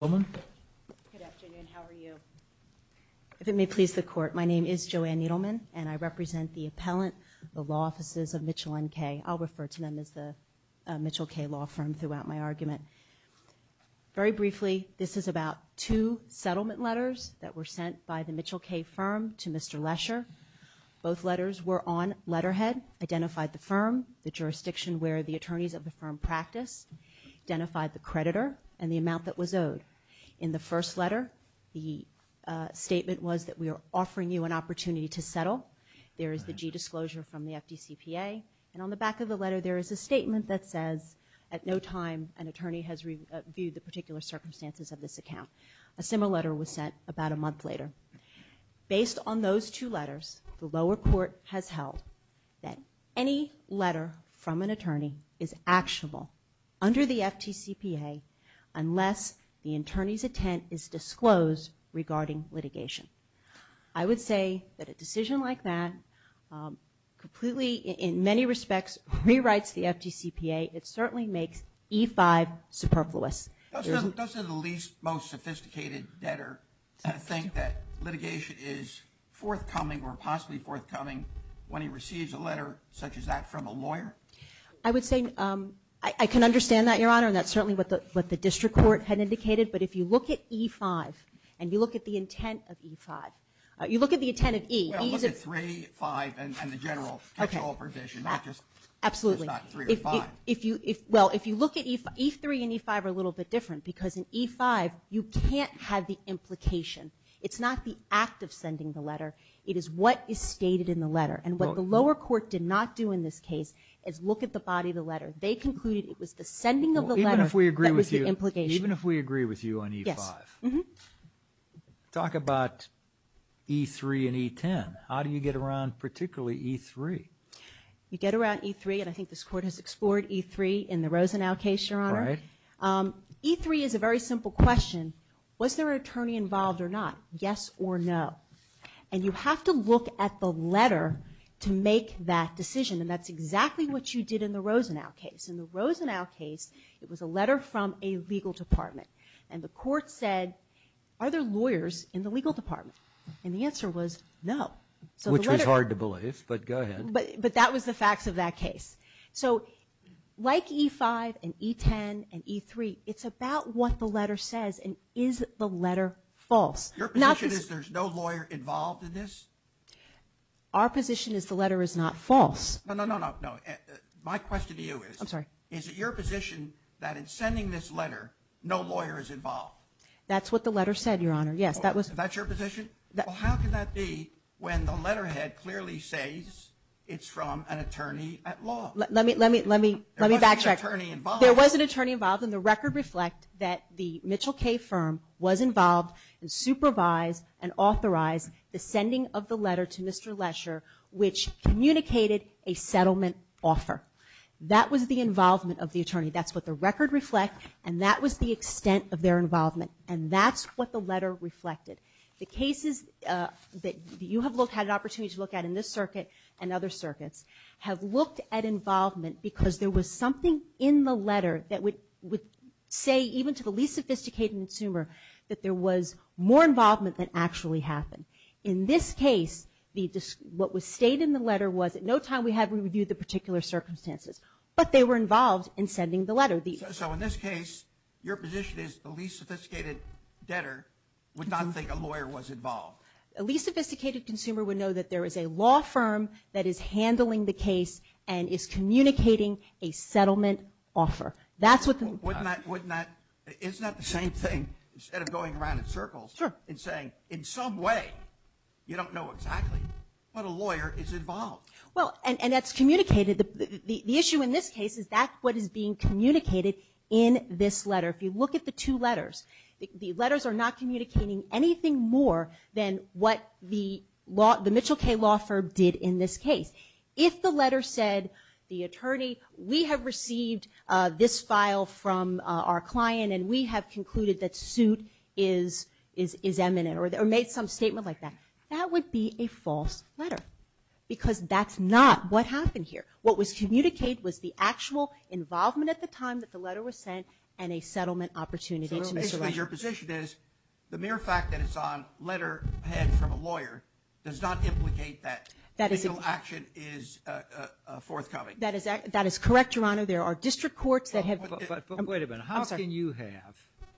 Good afternoon. How are you? If it may please the Court, my name is Joanne Needleman, and I represent the appellant, the Law Offices Of Mitchell N.Kay. I'll refer to them as the Mitchell K. Law Firm throughout my argument. Very briefly, this is about two settlement letters that were sent by the Mitchell K. Firm to Mr. Lesher. Both letters were on letterhead, identified the firm, the jurisdiction where the attorneys of the firm practiced, identified the creditor, and the amount that was owed. In the first letter, the statement was that we are offering you an opportunity to settle. There is the G disclosure from the FDCPA, and on the back of the letter there is a statement that says at no time an attorney has reviewed the particular circumstances of this account. A similar letter was sent about a month later. Based on those two letters, the lower court has held that any letter from an attorney is actionable under the FDCPA unless the attorney's intent is disclosed regarding litigation. I would say that a decision like that completely, in many respects, rewrites the FDCPA. It certainly makes E-5 superfluous. Doesn't the least, most sophisticated debtor think that litigation is forthcoming or possibly forthcoming when he receives a letter such as that from a lawyer? I would say I can understand that, Your Honor, and that's certainly what the district court had indicated, but if you look at E-5 and you look at the intent of E-5, you look at the intent of E. Well, look at 3, 5, and the general control provision, not just 3 or 5. Well, if you look at E-3 and E-5 are a little bit different because in E-5 you can't have the implication. It's not the act of sending the letter. It is what is stated in the letter, and what the lower court did not do in this case is look at the body of the letter. They concluded it was the sending of the letter that was the implication. Even if we agree with you on E-5, talk about E-3 and E-10. How do you get around particularly E-3? You get around E-3, and I think this court has explored E-3 in the Rosenau case, Your Honor. Right. E-3 is a very simple question. Was there an attorney involved or not? Yes or no? And you have to look at the letter to make that decision, and that's exactly what you did in the Rosenau case. In the Rosenau case, it was a letter from a legal department, and the court said, are there lawyers in the legal department? And the answer was no. Which was hard to believe, but go ahead. But that was the facts of that case. So like E-5 and E-10 and E-3, it's about what the letter says, and is the letter false? Your position is there's no lawyer involved in this? Our position is the letter is not false. No, no, no, no. My question to you is, is it your position that in sending this letter, no lawyer is involved? That's what the letter said, Your Honor, yes. That's your position? Well, how can that be when the letterhead clearly says it's from an attorney at law? Let me backtrack. There was an attorney involved. There was an attorney involved, and the record reflects that the Mitchell K firm was involved and supervised and authorized the sending of the letter to Mr. Lesher, which communicated a settlement offer. That was the involvement of the attorney. That's what the record reflects, and that was the extent of their involvement, and that's what the letter reflected. The cases that you have had an opportunity to look at in this circuit and other circuits have looked at involvement because there was something in the letter that would say, even to the least sophisticated consumer, that there was more involvement than actually happened. In this case, what was stated in the letter was at no time we had reviewed the particular circumstances, but they were involved in sending the letter. So in this case, your position is the least sophisticated debtor would not think a lawyer was involved. A least sophisticated consumer would know that there is a law firm that is handling the case and is communicating a settlement offer. That's what the record says. Isn't that the same thing instead of going around in circles and saying, in some way you don't know exactly, but a lawyer is involved? Well, and that's communicated. The issue in this case is that's what is being communicated in this letter. If you look at the two letters, the letters are not communicating anything more than what the Mitchell K Law Firm did in this case. If the letter said, the attorney, we have received this file from our client and we have concluded that suit is eminent or made some statement like that, that would be a false letter because that's not what happened here. What was communicated was the actual involvement at the time that the letter was sent and a settlement opportunity. So basically your position is the mere fact that it's on letterhead from a lawyer does not implicate that actual action is forthcoming. That is correct, Your Honor. There are district courts that have – Wait a minute. How can you have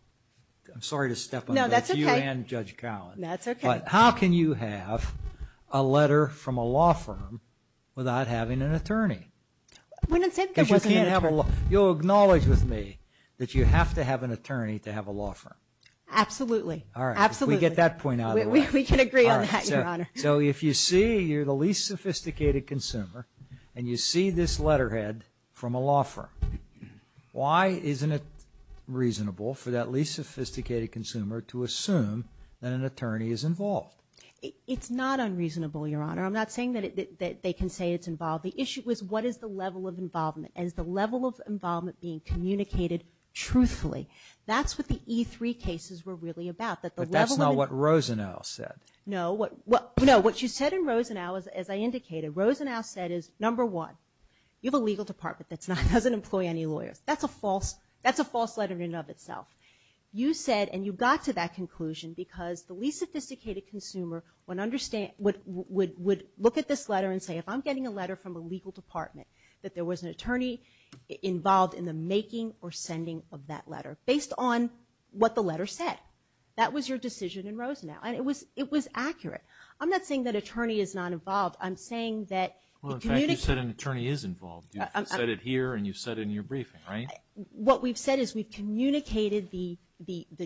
– I'm sorry to step on both you and Judge Cowan. That's okay. How can you have a letter from a law firm without having an attorney? We didn't say there wasn't an attorney. Because you can't have a – you'll acknowledge with me that you have to have an attorney to have a law firm. Absolutely. All right. Absolutely. We get that point out of the way. We can agree on that, Your Honor. So if you see you're the least sophisticated consumer and you see this letterhead from a law firm, why isn't it reasonable for that least sophisticated consumer to assume that an attorney is involved? It's not unreasonable, Your Honor. I'm not saying that they can say it's involved. The issue is what is the level of involvement. Is the level of involvement being communicated truthfully? That's what the E3 cases were really about, that the level of – But that's not what Rosenau said. No. What you said in Rosenau, as I indicated, Rosenau said is, number one, you have a legal department that doesn't employ any lawyers. That's a false letter in and of itself. You said, and you got to that conclusion, because the least sophisticated consumer would look at this letter and say if I'm getting a letter from a legal department that there was an attorney involved in the making or sending of that letter based on what the letter said. That was your decision in Rosenau, and it was accurate. I'm not saying that an attorney is not involved. I'm saying that it communicates. Well, in fact, you said an attorney is involved. You've said it here and you've said it in your briefing, right? What we've said is we've communicated the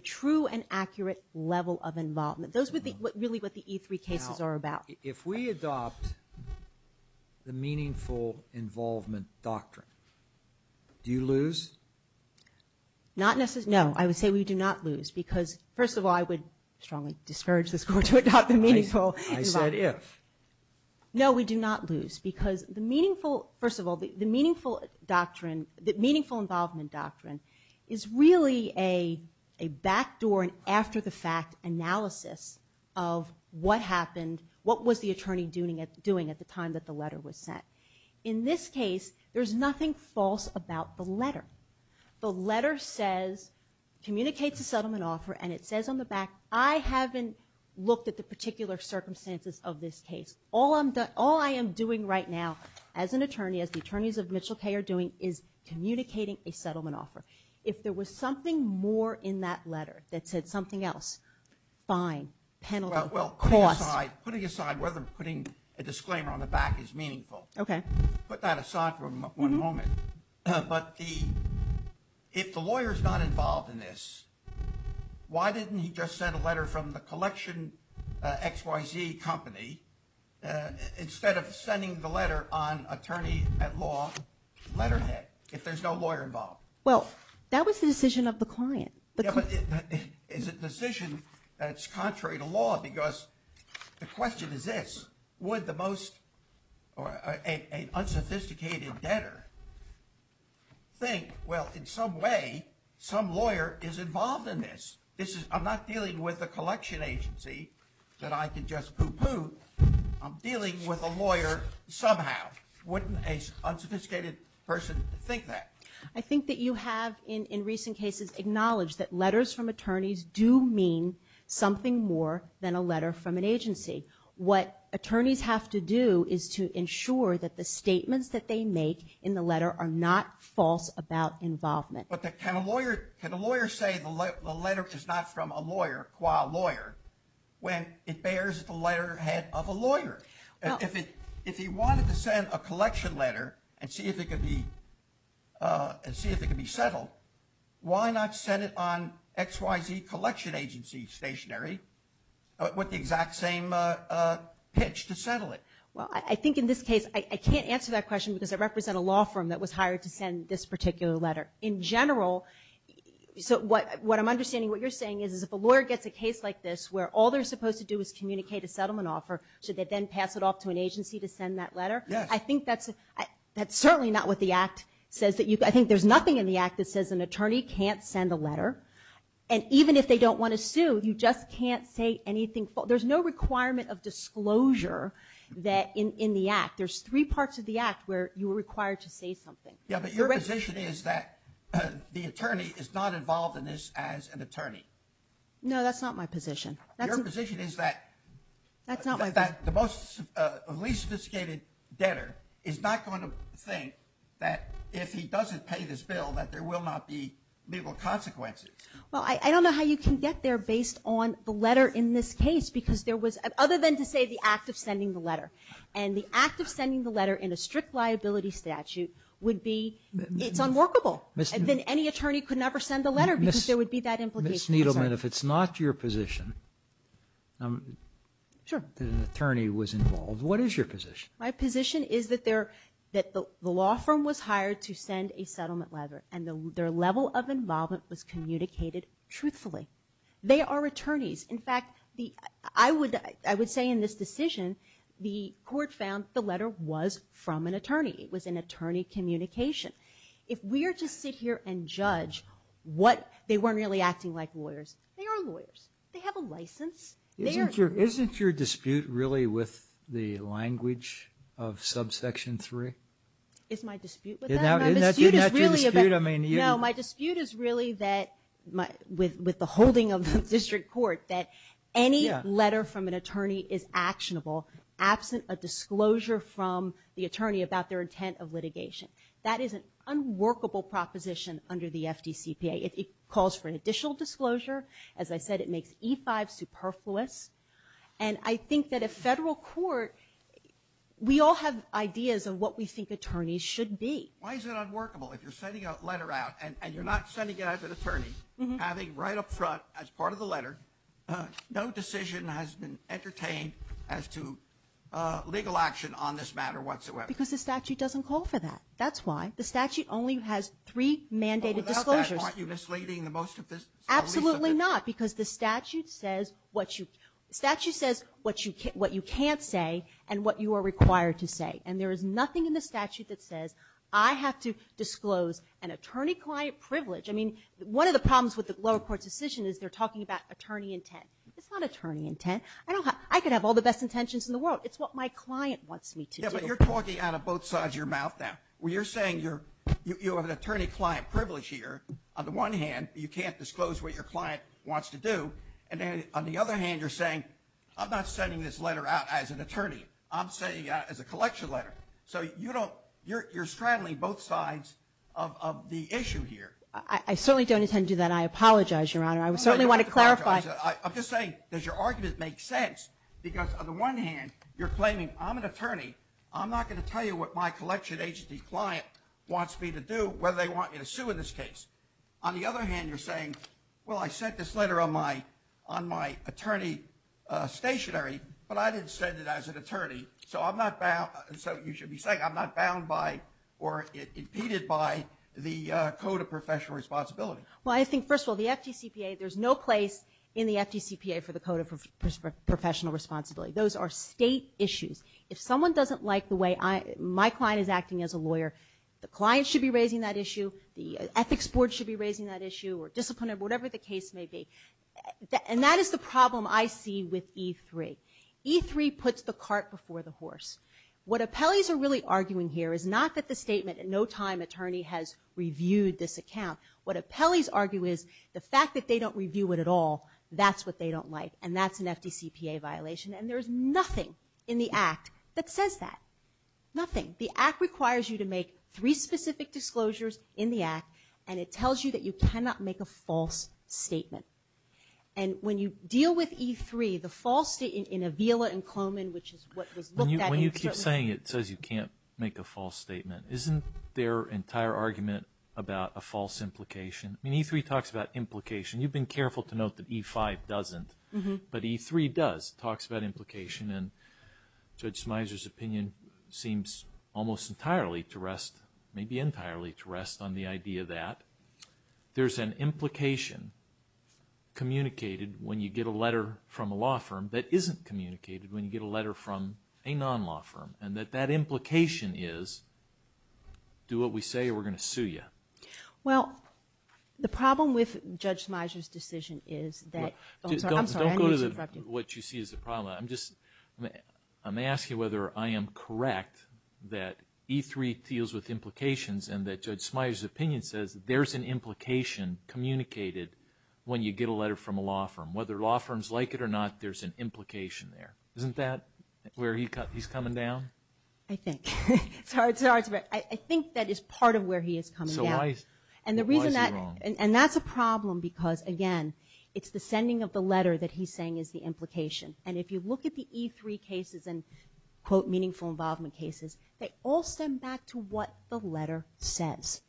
true and accurate level of involvement. Those were really what the E3 cases are about. Now, if we adopt the meaningful involvement doctrine, do you lose? Not necessarily. No, I would say we do not lose because, first of all, I would strongly discourage this Court to adopt the meaningful involvement. I said if. No, we do not lose because the meaningful – first of all, the meaningful doctrine, the meaningful involvement doctrine is really a backdoor and after-the-fact analysis of what happened, what was the attorney doing at the time that the letter was sent. In this case, there's nothing false about the letter. The letter says, communicates a settlement offer, and it says on the back, I haven't looked at the particular circumstances of this case. All I am doing right now as an attorney, as the attorneys of Mitchell K. are doing, is communicating a settlement offer. If there was something more in that letter that said something else, fine, penalty. Well, putting aside whether putting a disclaimer on the back is meaningful, put that aside for one moment. But if the lawyer is not involved in this, why didn't he just send a letter from the collection XYZ company instead of sending the letter on attorney-at-law letterhead if there's no lawyer involved? Well, that was the decision of the client. Yeah, but is it a decision that's contrary to law because the question is this. Would the most – an unsophisticated debtor think, well, in some way, some lawyer is involved in this? I'm not dealing with a collection agency that I can just poo-poo. I'm dealing with a lawyer somehow. Wouldn't an unsophisticated person think that? I think that you have, in recent cases, acknowledged that letters from attorneys do mean something more than a letter from an agency. What attorneys have to do is to ensure that the statements that they make in the letter are not false about involvement. But can a lawyer say the letter is not from a lawyer, qua lawyer, when it bears the letterhead of a lawyer? If he wanted to send a collection letter and see if it could be settled, why not send it on XYZ collection agency stationary with the exact same pitch to settle it? Well, I think in this case, I can't answer that question because I represent a law firm that was hired to send this particular letter. In general, what I'm understanding what you're saying is if a lawyer gets a case like this where all they're supposed to do is communicate a settlement offer, should they then pass it off to an agency to send that letter? I think that's certainly not what the Act says. I think there's nothing in the Act that says an attorney can't send a letter. And even if they don't want to sue, you just can't say anything false. There's no requirement of disclosure in the Act. There's three parts of the Act where you're required to say something. Yeah, but your position is that the attorney is not involved in this as an attorney. No, that's not my position. Your position is that the least sophisticated debtor is not going to think that if he doesn't pay this bill that there will not be legal consequences. Well, I don't know how you can get there based on the letter in this case other than to say the act of sending the letter. And the act of sending the letter in a strict liability statute would be it's unworkable. Then any attorney could never send the letter because there would be that implication. Ms. Needleman, if it's not your position that an attorney was involved, what is your position? My position is that the law firm was hired to send a settlement letter and their level of involvement was communicated truthfully. They are attorneys. In fact, I would say in this decision the court found the letter was from an attorney. It was an attorney communication. If we are to sit here and judge what they weren't really acting like lawyers, they are lawyers. They have a license. Isn't your dispute really with the language of Subsection 3? Isn't that your dispute? No, my dispute is really with the holding of the district court that any letter from an attorney is actionable absent a disclosure from the attorney about their intent of litigation. That is an unworkable proposition under the FDCPA. It calls for an additional disclosure. As I said, it makes E-5 superfluous. And I think that a federal court, we all have ideas of what we think attorneys should be. Why is it unworkable? If you're sending a letter out and you're not sending it as an attorney, having right up front as part of the letter, no decision has been entertained as to legal action on this matter whatsoever. Because the statute doesn't call for that. That's why. The statute only has three mandated disclosures. Are you misleading the most of this? Absolutely not, because the statute says what you can't say and what you are required to say. And there is nothing in the statute that says I have to disclose an attorney-client privilege. I mean, one of the problems with the lower court's decision is they're talking about attorney intent. It's not attorney intent. I could have all the best intentions in the world. It's what my client wants me to do. Yeah, but you're talking out of both sides of your mouth now. You're saying you have an attorney-client privilege here. On the one hand, you can't disclose what your client wants to do. And on the other hand, you're saying I'm not sending this letter out as an attorney. I'm sending it out as a collection letter. So you're straddling both sides of the issue here. I certainly don't intend to do that. I apologize, Your Honor. I certainly want to clarify. I'm just saying, does your argument make sense? Because on the one hand, you're claiming I'm an attorney. I'm not going to tell you what my collection agency client wants me to do, whether they want me to sue in this case. On the other hand, you're saying, well, I sent this letter on my attorney stationary, but I didn't send it as an attorney, so I'm not bound. So you should be saying I'm not bound by or impeded by the Code of Professional Responsibility. Well, I think, first of all, the FDCPA, there's no place in the FDCPA for the Code of Professional Responsibility. Those are state issues. If someone doesn't like the way my client is acting as a lawyer, the client should be raising that issue. The ethics board should be raising that issue or disciplinary, whatever the case may be. And that is the problem I see with E3. E3 puts the cart before the horse. What appellees are really arguing here is not that the statement, no time attorney has reviewed this account. What appellees argue is the fact that they don't review it at all, that's what they don't like, and that's an FDCPA violation. And there's nothing in the Act that says that, nothing. The Act requires you to make three specific disclosures in the Act, and it tells you that you cannot make a false statement. And when you deal with E3, the false statement in Avila and Coleman, which is what was looked at internally. When you keep saying it says you can't make a false statement, isn't their entire argument about a false implication? I mean, E3 talks about implication. You've been careful to note that E5 doesn't. But E3 does, talks about implication, and Judge Smyser's opinion seems almost entirely to rest, maybe entirely to rest on the idea that there's an implication communicated when you get a letter from a law firm that isn't communicated when you get a letter from a non-law firm. And that that implication is, do what we say or we're going to sue you. Well, the problem with Judge Smyser's decision is that, I'm sorry. Don't go to what you see as the problem. I'm just, I'm going to ask you whether I am correct that E3 deals with implications and that Judge Smyser's opinion says there's an implication communicated when you get a letter from a law firm. Whether law firms like it or not, there's an implication there. Isn't that where he's coming down? I think. I think that is part of where he is coming down. So why is he wrong? And the reason that, and that's a problem because, again, it's the sending of the letter that he's saying is the implication. And if you look at the E3 cases and, quote, meaningful involvement cases, they all stem back to what the letter says.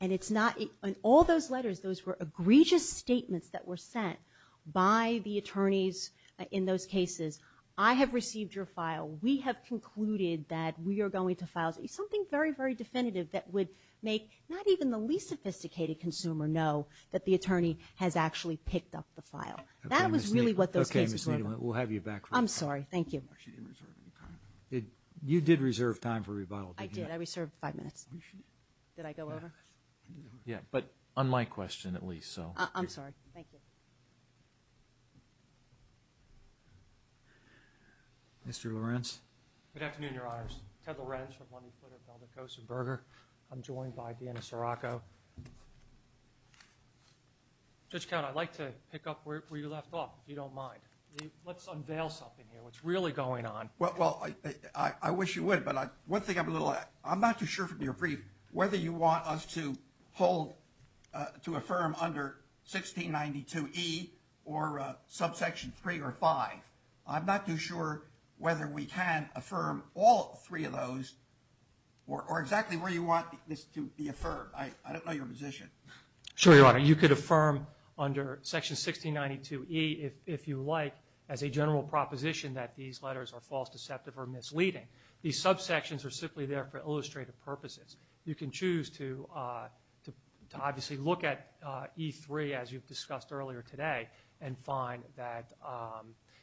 And it's not, in all those letters, those were egregious statements that were sent by the attorneys in those cases. I have received your file. We have concluded that we are going to file. Something very, very definitive that would make not even the least sophisticated consumer know that the attorney has actually picked up the file. That was really what those cases were about. Okay, Ms. Needham, we'll have you back for a second. I'm sorry. Thank you. You did reserve time for rebuttal. I did. I reserved five minutes. Did I go over? Yeah, but on my question at least. I'm sorry. Thank you. Mr. Lorenz. Good afternoon, Your Honors. Ted Lorenz from Lundy, Flitter, Velda, Coase, and Berger. I'm joined by Deanna Sirocco. Judge Count, I'd like to pick up where you left off, if you don't mind. Let's unveil something here, what's really going on. Well, I wish you would, but one thing I'm not too sure from your brief, whether you want us to hold, to affirm under 1692E or subsection 3 or 5. I'm not too sure whether we can affirm all three of those or exactly where you want this to be affirmed. I don't know your position. Sure, Your Honor. You could affirm under Section 1692E, if you like, as a general proposition that these letters are false, deceptive, or misleading. These subsections are simply there for illustrative purposes. You can choose to obviously look at E3, as you've discussed earlier today, and find that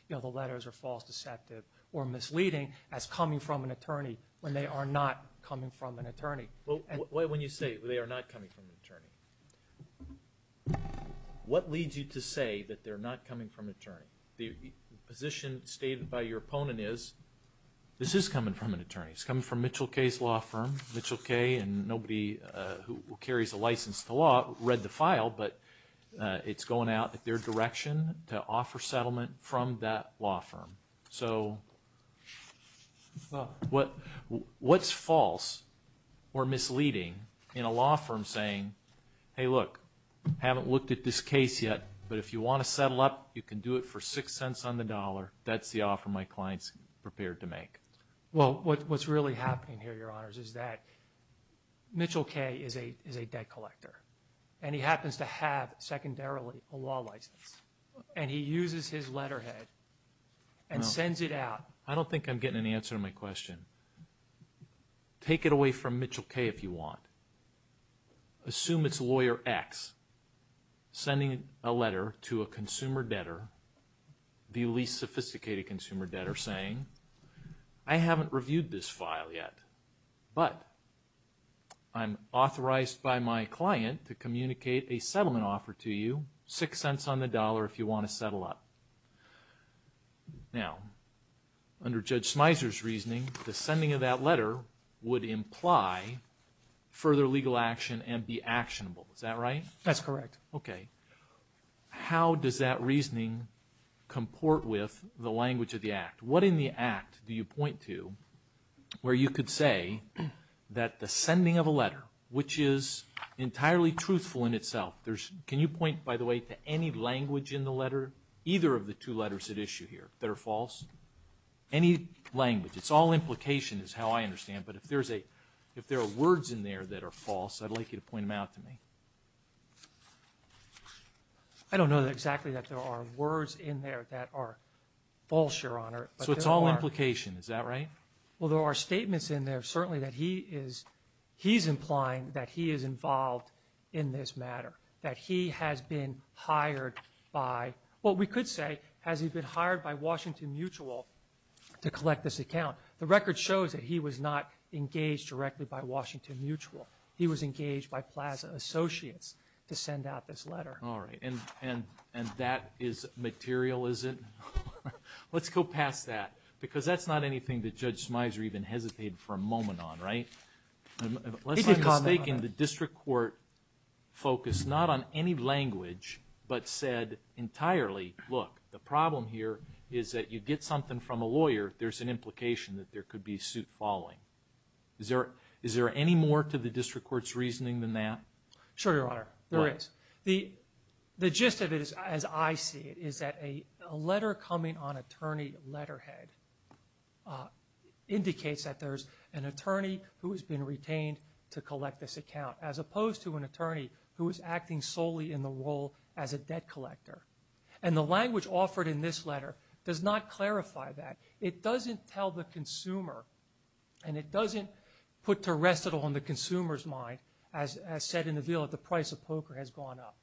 the letters are false, deceptive, or misleading as coming from an attorney when they are not coming from an attorney. When you say they are not coming from an attorney, what leads you to say that they're not coming from an attorney? The position stated by your opponent is this is coming from an attorney. It's coming from Mitchell K.'s law firm. Mitchell K. and nobody who carries a license to law read the file, but it's going out at their direction to offer settlement from that law firm. So what's false or misleading in a law firm saying, hey, look, haven't looked at this case yet, but if you want to settle up, you can do it for six cents on the dollar. That's the offer my client's prepared to make. Well, what's really happening here, Your Honors, is that Mitchell K. is a debt collector, and he happens to have secondarily a law license, and he uses his letterhead and sends it out. I don't think I'm getting an answer to my question. Take it away from Mitchell K. if you want. Assume it's lawyer X sending a letter to a consumer debtor, the least sophisticated consumer debtor, saying I haven't reviewed this file yet, but I'm authorized by my client to communicate a settlement offer to you, six cents on the dollar if you want to settle up. Now, under Judge Smyser's reasoning, the sending of that letter would imply further legal action and be actionable. Is that right? That's correct. How does that reasoning comport with the language of the act? What in the act do you point to where you could say that the sending of a letter, which is entirely truthful in itself, can you point, by the way, to any language in the letter, either of the two letters at issue here, that are false? Any language. It's all implication is how I understand, but if there are words in there that are false, I'd like you to point them out to me. I don't know exactly that there are words in there that are false, Your Honor. So it's all implication. Is that right? Well, there are statements in there, certainly, that he is implying that he is involved in this matter, that he has been hired by, well, we could say has he been hired by Washington Mutual to collect this account. The record shows that he was not engaged directly by Washington Mutual. He was engaged by Plaza Associates to send out this letter. All right. And that is material, is it? Let's go past that, because that's not anything that Judge Smyser even hesitated for a moment on, right? He did comment on that. Unless I'm mistaken, the district court focused not on any language, but said entirely, look, the problem here is that you get something from a lawyer, there's an implication that there could be suit following. Is there any more to the district court's reasoning than that? Sure, Your Honor, there is. The gist of it, as I see it, is that a letter coming on attorney letterhead indicates that there's an attorney who has been retained to collect this account, as opposed to an attorney who is acting solely in the role as a debt collector. And the language offered in this letter does not clarify that. It doesn't tell the consumer, and it doesn't put terrestrial on the consumer's mind, as said in the bill, that the price of poker has gone up.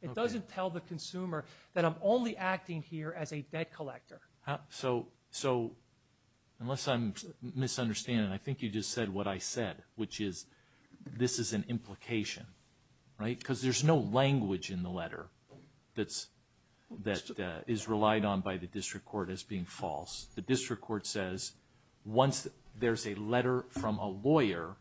It doesn't tell the consumer that I'm only acting here as a debt collector. So unless I'm misunderstanding, I think you just said what I said, which is this is an implication, right? Because there's no language in the letter that is relied on by the district court as being false. The district court says once there's a letter from a lawyer,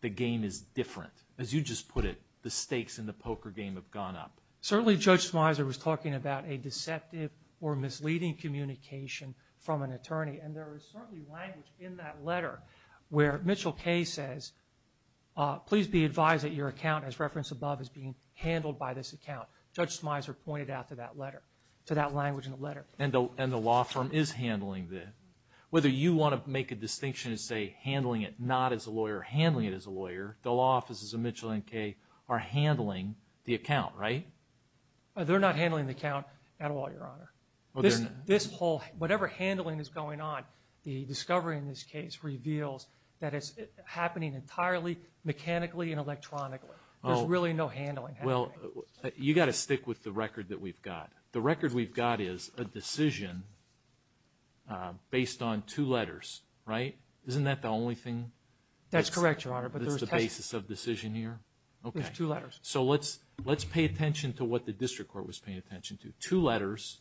the game is different. As you just put it, the stakes in the poker game have gone up. Certainly Judge Smyser was talking about a deceptive or misleading communication from an attorney, and there is certainly language in that letter where Mitchell K. says, please be advised that your account, as referenced above, is being handled by this account. Judge Smyser pointed out to that letter, to that language in the letter. And the law firm is handling that. Whether you want to make a distinction and say handling it not as a lawyer or handling it as a lawyer, the law offices of Mitchell and K. are handling the account, right? They're not handling the account at all, Your Honor. This whole, whatever handling is going on, the discovery in this case reveals that it's happening entirely mechanically and electronically. There's really no handling happening. You've got to stick with the record that we've got. The record we've got is a decision based on two letters, right? Isn't that the only thing? That's correct, Your Honor. That's the basis of decision here? There's two letters. So let's pay attention to what the district court was paying attention to. Two letters,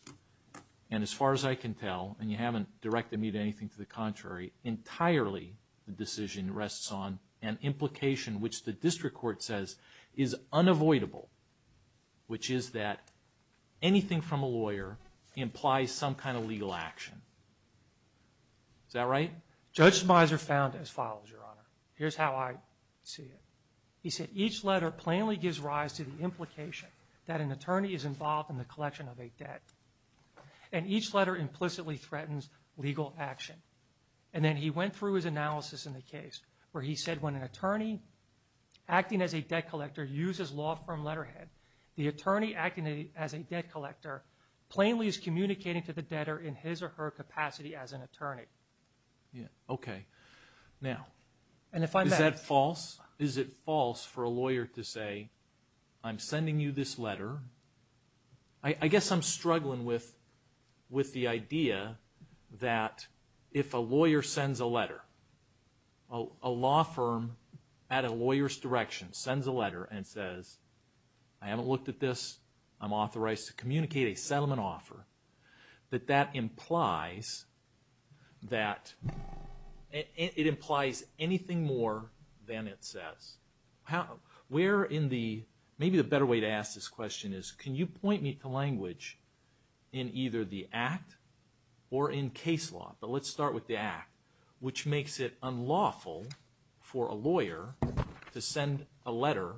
and as far as I can tell, and you haven't directed me to anything to the contrary, entirely the decision rests on an implication which the district court says is unavoidable, which is that anything from a lawyer implies some kind of legal action. Is that right? Judge Smyser found it as follows, Your Honor. Here's how I see it. He said each letter plainly gives rise to the implication that an attorney is involved in the collection of a debt, and each letter implicitly threatens legal action. And then he went through his analysis in the case where he said when an attorney acting as a debt collector uses law firm letterhead, the attorney acting as a debt collector plainly is communicating to the debtor in his or her capacity as an attorney. Okay. Now, is that false? Is it false for a lawyer to say, I'm sending you this letter. A law firm at a lawyer's direction sends a letter and says, I haven't looked at this. I'm authorized to communicate a settlement offer. That that implies that it implies anything more than it says. Where in the, maybe the better way to ask this question is, can you point me to language in either the act or in case law? But let's start with the act, which makes it unlawful for a lawyer to send a letter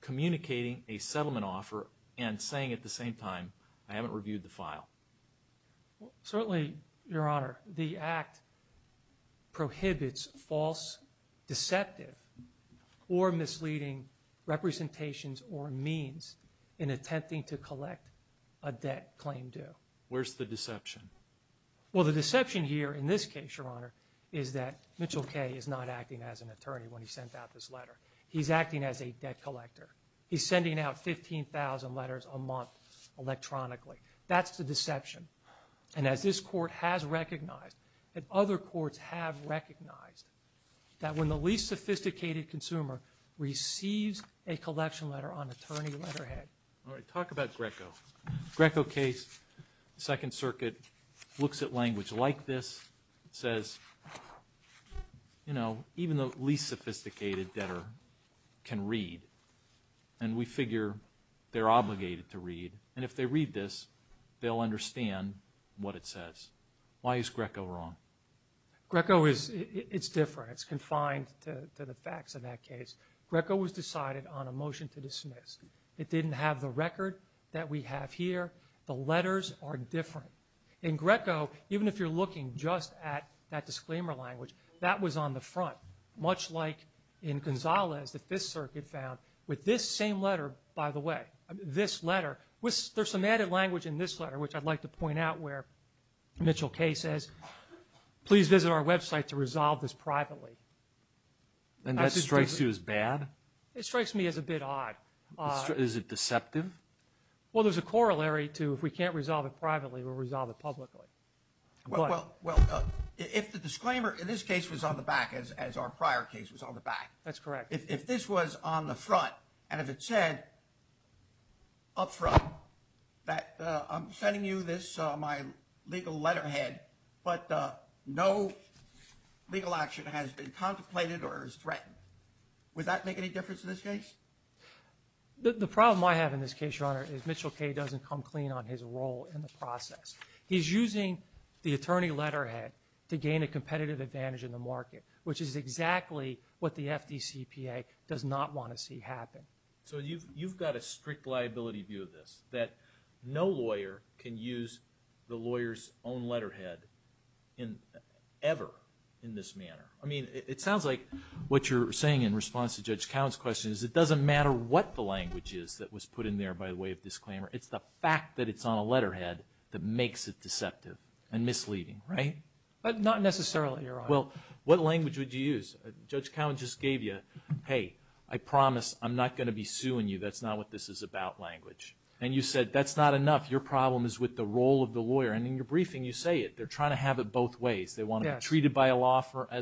communicating a settlement offer and saying at the same time, I haven't reviewed the file. Certainly, Your Honor, the act prohibits false, deceptive, or misleading representations or means in attempting to collect a debt claim due. Where's the deception? Well, the deception here in this case, Your Honor, is that Mitchell K is not acting as an attorney when he sent out this letter. He's acting as a debt collector. He's sending out 15,000 letters a month electronically. That's the deception. And as this court has recognized, and other courts have recognized, that when the least sophisticated consumer receives a collection letter on attorney letterhead. All right. Talk about Greco. Greco case, Second Circuit, looks at language like this, says, you know, even the least sophisticated debtor can read. And we figure they're obligated to read. And if they read this, they'll understand what it says. Why is Greco wrong? Greco is different. It's confined to the facts of that case. Greco was decided on a motion to dismiss. It didn't have the record that we have here. The letters are different. In Greco, even if you're looking just at that disclaimer language, that was on the front, much like in Gonzalez, the Fifth Circuit found, with this same letter, by the way, this letter, there's some added language in this letter, which I'd like to point out where Mitchell K says, please visit our website to resolve this privately. And that strikes you as bad? It strikes me as a bit odd. Is it deceptive? Well, there's a corollary to if we can't resolve it privately, we'll resolve it publicly. Well, if the disclaimer in this case was on the back, as our prior case was on the back. That's correct. If this was on the front, and if it said up front, that I'm sending you this, my legal letterhead, but no legal action has been contemplated or is threatened, would that make any difference in this case? The problem I have in this case, Your Honor, is Mitchell K doesn't come clean on his role in the process. He's using the attorney letterhead to gain a competitive advantage in the market, which is exactly what the FDCPA does not want to see happen. So you've got a strict liability view of this, that no lawyer can use the lawyer's own letterhead ever in this manner. I mean, it sounds like what you're saying in response to Judge Cowen's question is it doesn't matter what the language is that was put in there by way of disclaimer. It's the fact that it's on a letterhead that makes it deceptive and misleading, right? Not necessarily, Your Honor. Well, what language would you use? Judge Cowen just gave you, hey, I promise I'm not going to be suing you. That's not what this is about language. And you said that's not enough. Your problem is with the role of the lawyer. And in your briefing, you say it. They're trying to have it both ways. They want to be treated as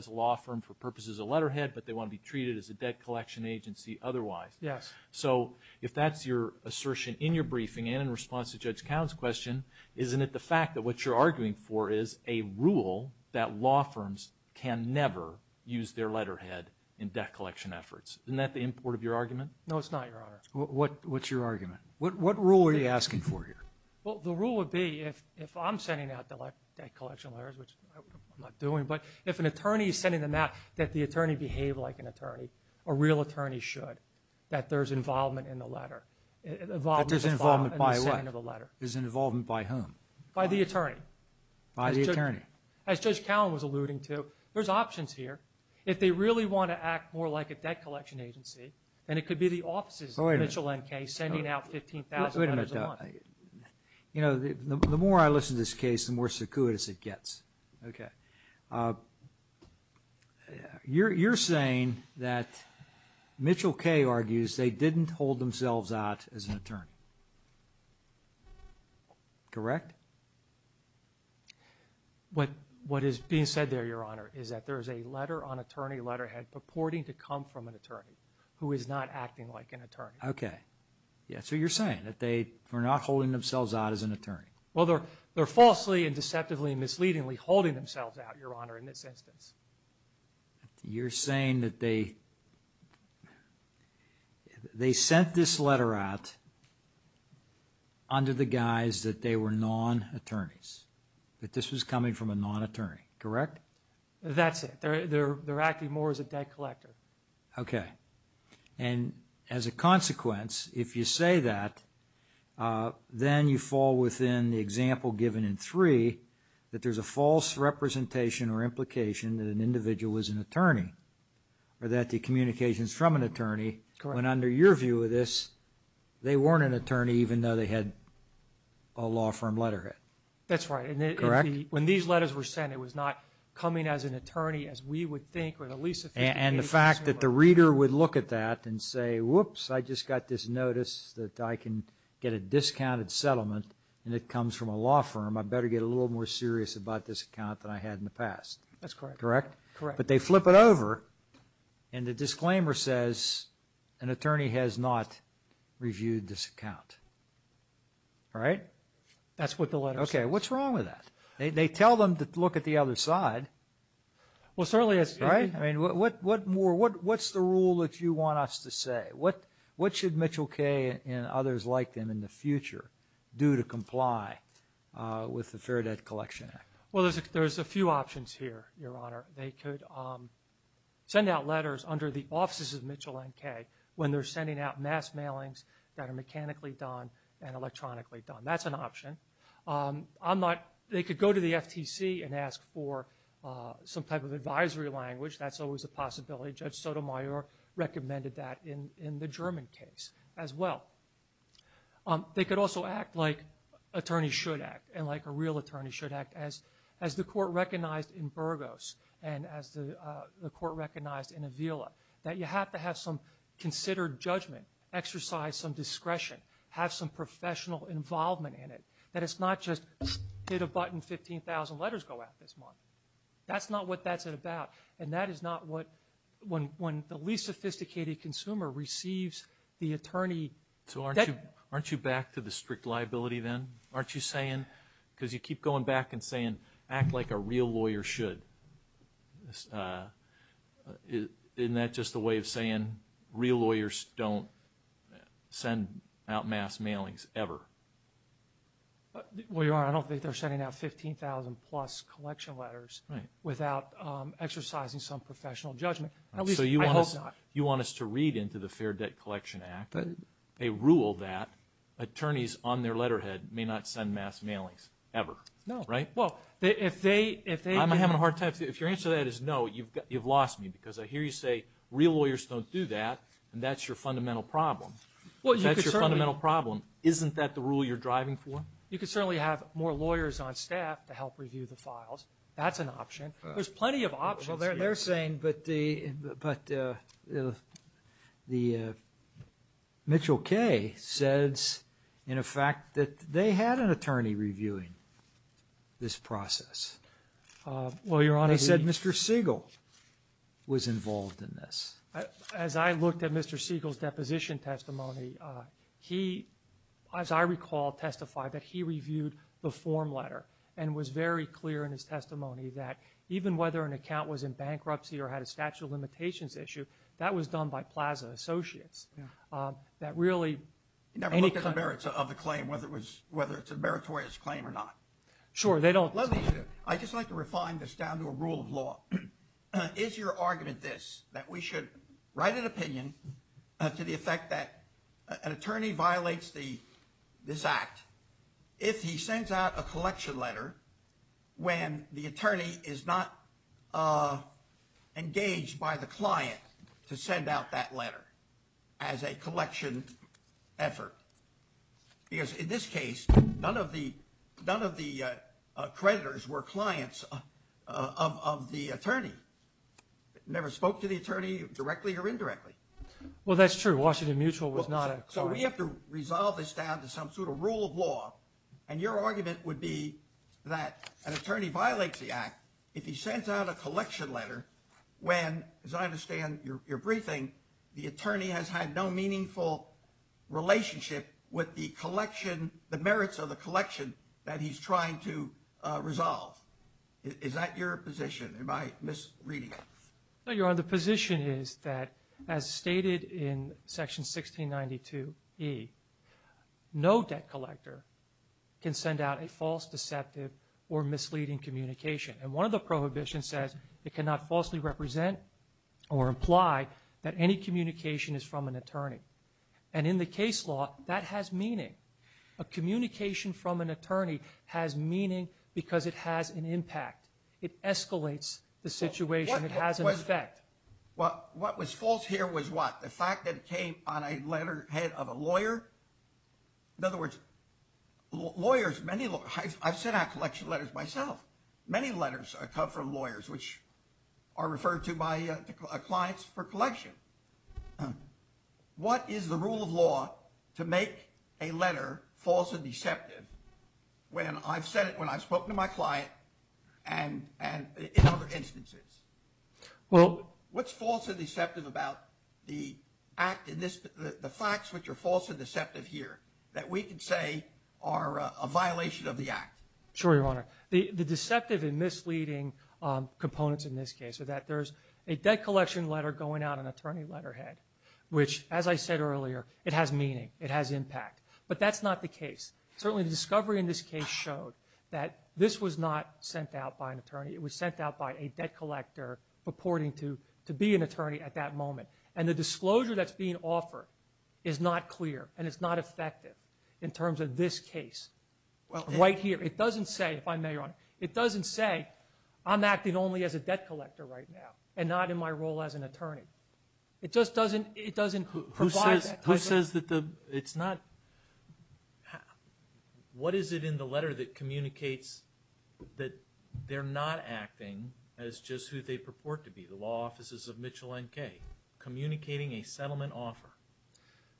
a law firm for purposes of letterhead, but they want to be treated as a debt collection agency otherwise. Yes. So if that's your assertion in your briefing and in response to Judge Cowen's question, isn't it the fact that what you're arguing for is a rule that law firms can never use their letterhead in debt collection efforts? Isn't that the import of your argument? No, it's not, Your Honor. What's your argument? What rule are you asking for here? Well, the rule would be if I'm sending out debt collection letters, which I'm not doing, but if an attorney is sending them out, that the attorney behave like an attorney, a real attorney should, that there's involvement in the letter. That there's involvement by what? There's involvement by whom? By the attorney. By the attorney. As Judge Cowen was alluding to, there's options here. If they really want to act more like a debt collection agency, then it could be the offices of Mitchell & Kay sending out $15,000 a month. You know, the more I listen to this case, the more secuitous it gets. Okay. You're saying that Mitchell & Kay argues they didn't hold themselves out as an attorney. Correct? What is being said there, Your Honor, is that there is a letter on attorney letterhead purporting to come from an attorney who is not acting like an attorney. Okay. Yeah, so you're saying that they were not holding themselves out as an attorney. Well, they're falsely and deceptively and misleadingly holding themselves out, Your Honor, in this instance. You're saying that they sent this letter out under the guise that they were non-attorneys, that this was coming from a non-attorney, correct? That's it. They're acting more as a debt collector. Okay. And as a consequence, if you say that, then you fall within the example given in 3 that there's a false representation or implication that an individual was an attorney or that the communications from an attorney, when under your view of this, they weren't an attorney even though they had a law firm letterhead. That's right. Correct? When these letters were sent, it was not coming as an attorney as we would And the fact that the reader would look at that and say, whoops, I just got this notice that I can get a discounted settlement and it comes from a law firm, I better get a little more serious about this account than I had in the past. That's correct. Correct? Correct. But they flip it over and the disclaimer says, an attorney has not reviewed this account. Right? That's what the letter says. Okay. What's wrong with that? They tell them to look at the other side. Well, certainly it's right. I mean, what's the rule that you want us to say? What should Mitchell K. and others like them in the future do to comply with the Fair Debt Collection Act? Well, there's a few options here, Your Honor. They could send out letters under the offices of Mitchell and K. when they're sending out mass mailings that are mechanically done and electronically done. That's an option. They could go to the FTC and ask for some type of advisory language. That's always a possibility. Judge Sotomayor recommended that in the German case as well. They could also act like attorneys should act and like a real attorney should act. As the court recognized in Burgos and as the court recognized in Avila, that you have to have some considered judgment, exercise some discretion, have some professional involvement in it, that it's not just hit a button, 15,000 letters go out this month. That's not what that's about, and that is not what when the least sophisticated consumer receives the attorney. So aren't you back to the strict liability then? Aren't you saying, because you keep going back and saying, act like a real lawyer should. Isn't that just a way of saying real lawyers don't send out mass mailings ever? Well, Your Honor, I don't think they're sending out 15,000-plus collection letters without exercising some professional judgment. So you want us to read into the Fair Debt Collection Act a rule that attorneys on their letterhead may not send mass mailings ever, right? I'm having a hard time. If your answer to that is no, you've lost me, because I hear you say real lawyers don't do that, and that's your fundamental problem. If that's your fundamental problem, isn't that the rule you're driving for? You could certainly have more lawyers on staff to help review the files. That's an option. There's plenty of options here. But Mitchell K. says, in effect, that they had an attorney reviewing this process. They said Mr. Siegel was involved in this. As I looked at Mr. Siegel's deposition testimony, he, as I recall, testified that he reviewed the form letter and was very clear in his testimony that even whether an account was in bankruptcy or had a statute of limitations issue, that was done by Plaza Associates. That really, any kind of- He never looked at the merits of the claim, whether it's a meritorious claim or not. Sure, they don't- Let me just, I'd just like to refine this down to a rule of law. Is your argument this, that we should write an opinion to the effect that an attorney violates this act if he sends out a collection letter when the attorney is not engaged by the client to send out that letter as a collection effort? Because in this case, none of the creditors were clients of the attorney. Never spoke to the attorney directly or indirectly. Well, that's true. Washington Mutual was not a client. So we have to resolve this down to some sort of rule of law. And your argument would be that an attorney violates the act if he sends out a collection letter when, as I understand your briefing, the attorney has had no meaningful relationship with the collection, the merits of the collection that he's trying to resolve. Is that your position? Am I misreading it? No, Your Honor. The position is that, as stated in Section 1692E, no debt collector can send out a false, deceptive, or misleading communication. And one of the prohibitions says it cannot falsely represent or imply that any communication is from an attorney. And in the case law, that has meaning. A communication from an attorney has meaning because it has an impact. It escalates the situation. It has an effect. What was false here was what? The fact that it came on a letterhead of a lawyer? In other words, lawyers, many lawyers. I've sent out collection letters myself. Many letters come from lawyers, which are referred to by clients for collection. What is the rule of law to make a letter false and deceptive? When I've said it, when I've spoken to my client, and in other instances. What's false and deceptive about the act in this, the facts which are false and deceptive here that we can say are a violation of the act? Sure, Your Honor. The deceptive and misleading components in this case are that there's a debt collection letter going out an attorney letterhead, which, as I said earlier, it has meaning. It has impact. But that's not the case. Certainly the discovery in this case showed that this was not sent out by an attorney. It was sent out by a debt collector purporting to be an attorney at that moment. And the disclosure that's being offered is not clear, and it's not effective in terms of this case right here. It doesn't say, if I may, Your Honor, it doesn't say I'm acting only as a debt collector right now and not in my role as an attorney. It just doesn't provide that. It says that it's not. What is it in the letter that communicates that they're not acting as just who they purport to be, the law offices of Mitchell N.K., communicating a settlement offer?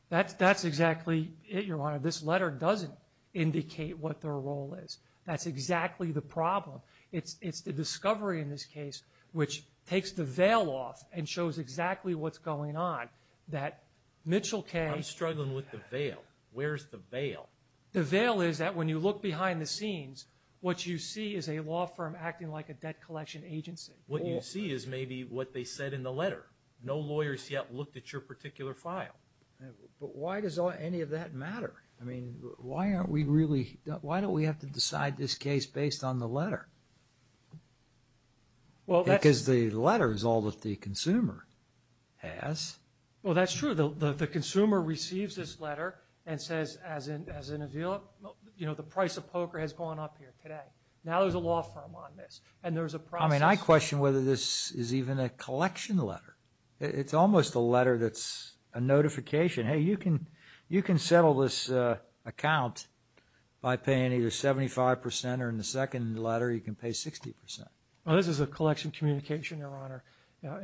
That's exactly it, Your Honor. This letter doesn't indicate what their role is. That's exactly the problem. It's the discovery in this case which takes the veil off and shows exactly what's going on, that Mitchell K. I'm struggling with the veil. Where's the veil? The veil is that when you look behind the scenes, what you see is a law firm acting like a debt collection agency. What you see is maybe what they said in the letter. No lawyers yet looked at your particular file. But why does any of that matter? I mean, why don't we have to decide this case based on the letter? Because the letter is all that the consumer has. Well, that's true. The consumer receives this letter and says, as in the price of poker has gone up here today. Now there's a law firm on this, and there's a process. I mean, I question whether this is even a collection letter. It's almost a letter that's a notification. Hey, you can settle this account by paying either 75% or in the second letter you can pay 60%. Well, this is a collection communication, Your Honor.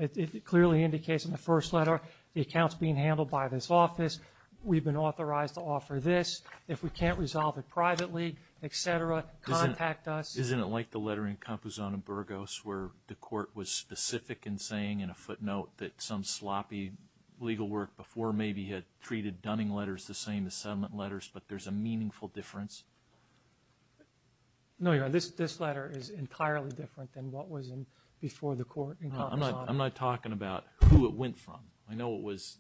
It clearly indicates in the first letter, the account's being handled by this office. We've been authorized to offer this. If we can't resolve it privately, et cetera, contact us. Isn't it like the letter in Campuzano-Burgos where the court was specific in saying in a footnote that some sloppy legal work before maybe had treated Dunning letters the same as settlement letters, but there's a meaningful difference? No, Your Honor. This letter is entirely different than what was before the court in Campuzano. I'm not talking about who it went from. I know it was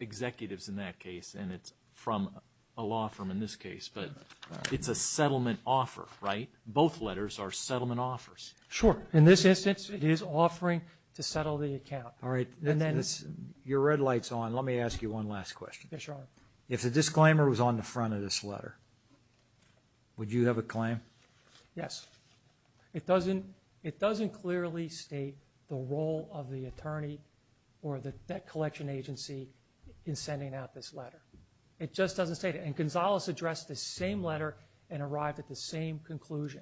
executives in that case, and it's from a law firm in this case. But it's a settlement offer, right? Both letters are settlement offers. Sure. In this instance, it is offering to settle the account. All right. Your red light's on. Let me ask you one last question. Yes, Your Honor. If the disclaimer was on the front of this letter, would you have a claim? Yes. It doesn't clearly state the role of the attorney or the debt collection agency in sending out this letter. It just doesn't state it. And Gonzales addressed the same letter and arrived at the same conclusion.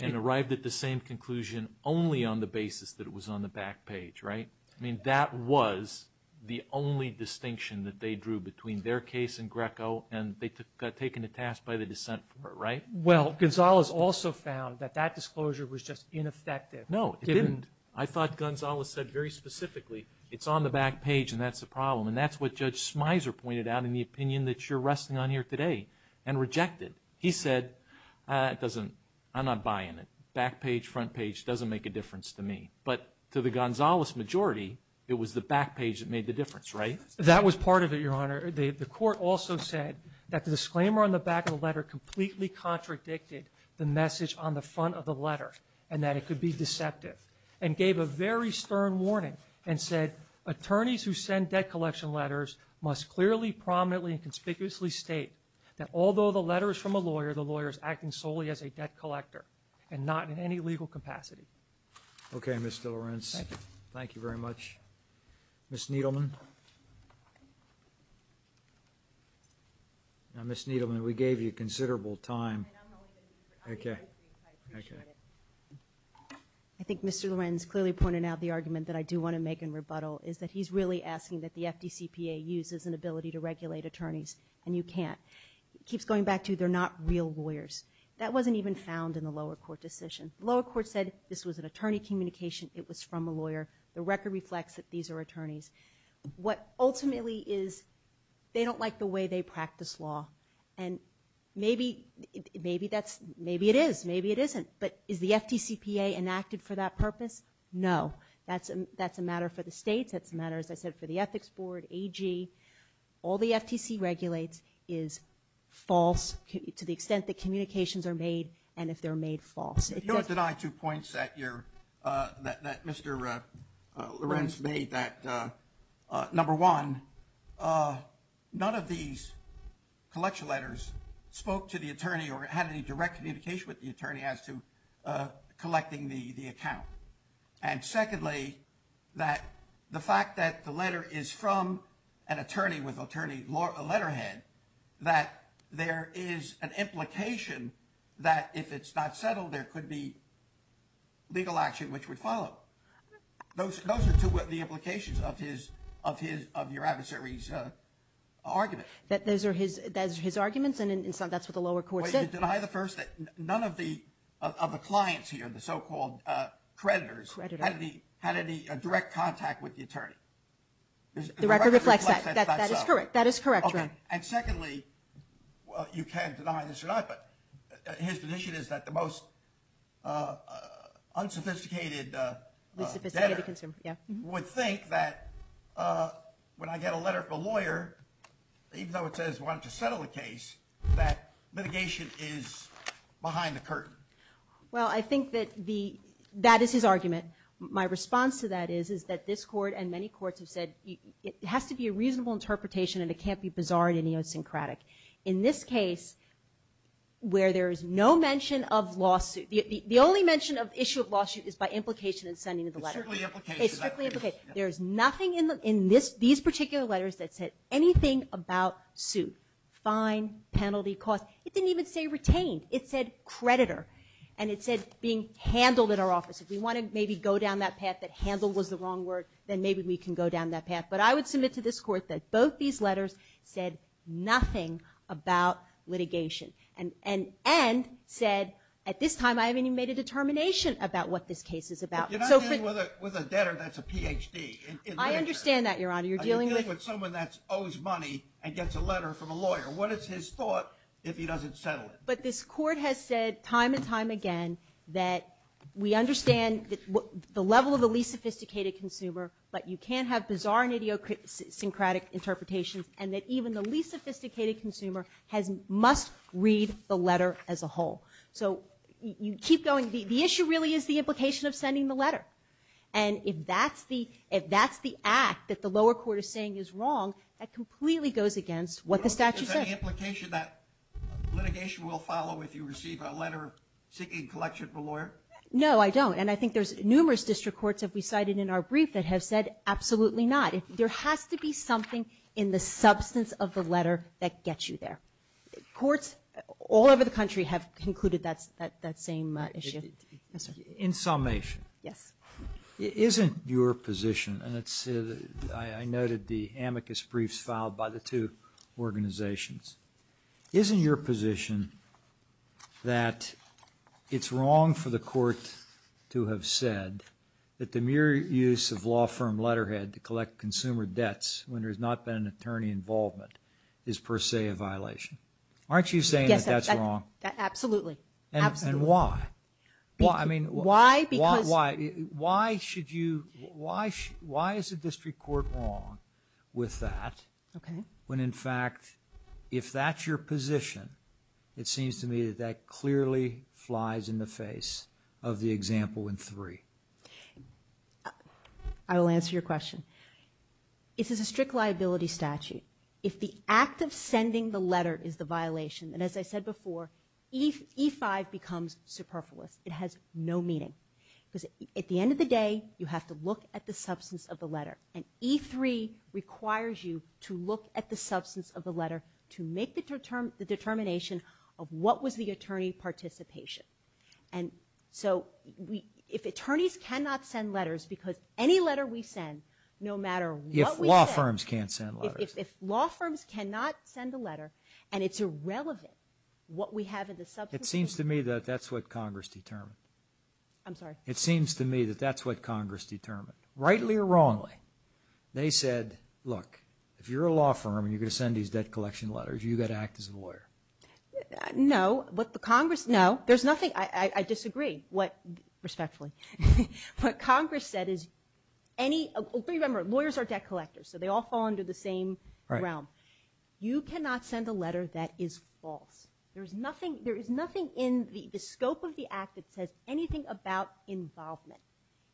And arrived at the same conclusion only on the basis that it was on the back page, right? I mean, that was the only distinction that they drew between their case and Greco, and they got taken to task by the dissent for it, right? Well, Gonzales also found that that disclosure was just ineffective. No, it didn't. I thought Gonzales said very specifically, it's on the back page and that's the problem. And that's what Judge Smyser pointed out in the opinion that you're resting on here today and rejected. He said, I'm not buying it. Back page, front page, doesn't make a difference to me. But to the Gonzales majority, it was the back page that made the difference, right? That was part of it, Your Honor. The court also said that the disclaimer on the back of the letter completely contradicted the message on the front of the letter and that it could be deceptive and gave a very stern warning and said, attorneys who send debt collection letters must clearly, prominently, and conspicuously state that although the letter is from a lawyer, the lawyer is acting solely as a debt collector and not in any legal capacity. Okay, Mr. Lorenz. Thank you. Thank you very much. Ms. Needleman. Ms. Needleman, we gave you considerable time. I know. Okay. I appreciate it. I think Mr. Lorenz clearly pointed out the argument that I do want to make in rebuttal is that he's really asking that the FDCPA uses an ability to regulate attorneys, and you can't. He keeps going back to they're not real lawyers. That wasn't even found in the lower court decision. The lower court said this was an attorney communication. It was from a lawyer. The record reflects that these are attorneys. What ultimately is they don't like the way they practice law, and maybe it is, maybe it isn't, but is the FDCPA enacted for that purpose? No. That's a matter for the states. That's a matter, as I said, for the Ethics Board, AG. All the FTC regulates is false to the extent that communications are made and if they're made false. You don't deny two points that Mr. Lorenz made. Number one, none of these collection letters spoke to the attorney or had any direct communication with the attorney as to collecting the account. And secondly, the fact that the letter is from an attorney with attorney letterhead, that there is an implication that if it's not settled, there could be legal action which would follow. Those are two of the implications of your adversary's argument. Those are his arguments, and that's what the lower court said. You deny the first that none of the clients here, the so-called creditors, had any direct contact with the attorney. The record reflects that. That is correct. And secondly, you can't deny this or not, but his position is that the most unsophisticated debtor would think that when I get a letter from a lawyer, even though it says we want to settle the case, that litigation is behind the curtain. Well, I think that that is his argument. My response to that is that this court and many courts have said it has to be a reasonable interpretation and it can't be bizarre and idiosyncratic. In this case, where there is no mention of lawsuit, the only mention of issue of lawsuit is by implication in sending the letter. It's strictly implication. It's strictly implication. There is nothing in these particular letters that said anything about suit, fine, penalty, cost. It didn't even say retained. It said creditor, and it said being handled at our office. If we want to maybe go down that path that handle was the wrong word, then maybe we can go down that path. But I would submit to this court that both these letters said nothing about litigation and said at this time I haven't even made a determination about what this case is about. But you're not dealing with a debtor that's a Ph.D. I understand that, Your Honor. You're dealing with someone that owes money and gets a letter from a lawyer. What is his thought if he doesn't settle it? But this court has said time and time again that we understand the level of the least sophisticated consumer, but you can't have bizarre and idiosyncratic interpretations and that even the least sophisticated consumer must read the letter as a whole. So you keep going. The issue really is the implication of sending the letter. And if that's the act that the lower court is saying is wrong, that completely goes against what the statute says. Is there any implication that litigation will follow if you receive a letter seeking collection from a lawyer? No, I don't. And I think there's numerous district courts that we cited in our brief that have said absolutely not. There has to be something in the substance of the letter that gets you there. Courts all over the country have concluded that same issue. In summation, isn't your position, and I noted the amicus briefs filed by the two organizations, isn't your position that it's wrong for the court to have said that the mere use of law firm letterhead to collect consumer debts when there's not been an attorney involvement is per se a violation? Aren't you saying that that's wrong? Yes, absolutely. And why? I mean, why is the district court wrong with that when, in fact, if that's your position, it seems to me that that clearly flies in the face of the example in three. I will answer your question. This is a strict liability statute. If the act of sending the letter is the violation, and as I said before, E-5 becomes superfluous. It has no meaning. Because at the end of the day, you have to look at the substance of the letter. And E-3 requires you to look at the substance of the letter to make the determination of what was the attorney participation. And so if attorneys cannot send letters because any letter we send, no matter what we send… If law firms cannot send a letter and it's irrelevant what we have in the substance… It seems to me that that's what Congress determined. I'm sorry? It seems to me that that's what Congress determined, rightly or wrongly. They said, look, if you're a law firm and you're going to send these debt collection letters, you've got to act as a lawyer. No, but the Congress – no, there's nothing – I disagree respectfully. What Congress said is any – remember, lawyers are debt collectors, so they all fall under the same realm. You cannot send a letter that is false. There is nothing in the scope of the act that says anything about involvement.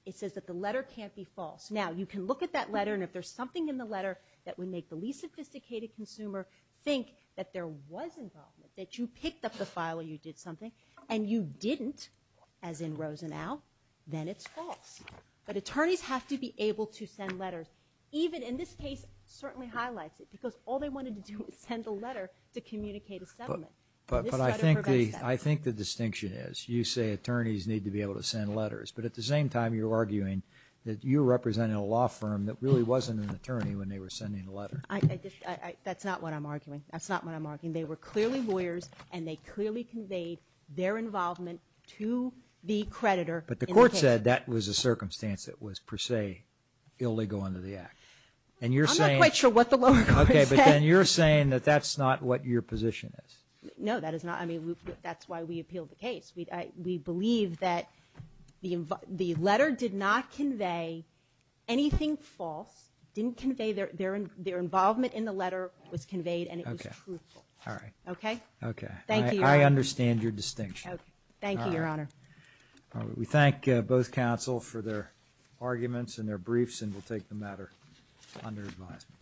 It says that the letter can't be false. Now, you can look at that letter, and if there's something in the letter that would make the least sophisticated consumer think that there was involvement, that you picked up the file or you did something, and you didn't, as in Rosenau, then it's false. But attorneys have to be able to send letters, even – and this case certainly highlights it, because all they wanted to do was send a letter to communicate a settlement. But I think the distinction is you say attorneys need to be able to send letters, but at the same time you're arguing that you're representing a law firm that really wasn't an attorney when they were sending the letter. That's not what I'm arguing. That's not what I'm arguing. They were clearly lawyers, and they clearly conveyed their involvement to the creditor in the case. But the court said that was a circumstance that was per se illegal under the act. I'm not quite sure what the lower court said. Okay, but then you're saying that that's not what your position is. No, that is not. I mean, that's why we appealed the case. We believe that the letter did not convey anything false, didn't convey – their involvement in the letter was conveyed, and it was truthful. Okay, all right. Okay? Okay. Thank you, Your Honor. I understand your distinction. Thank you, Your Honor. We thank both counsel for their arguments and their briefs, and we'll take the matter under advisement.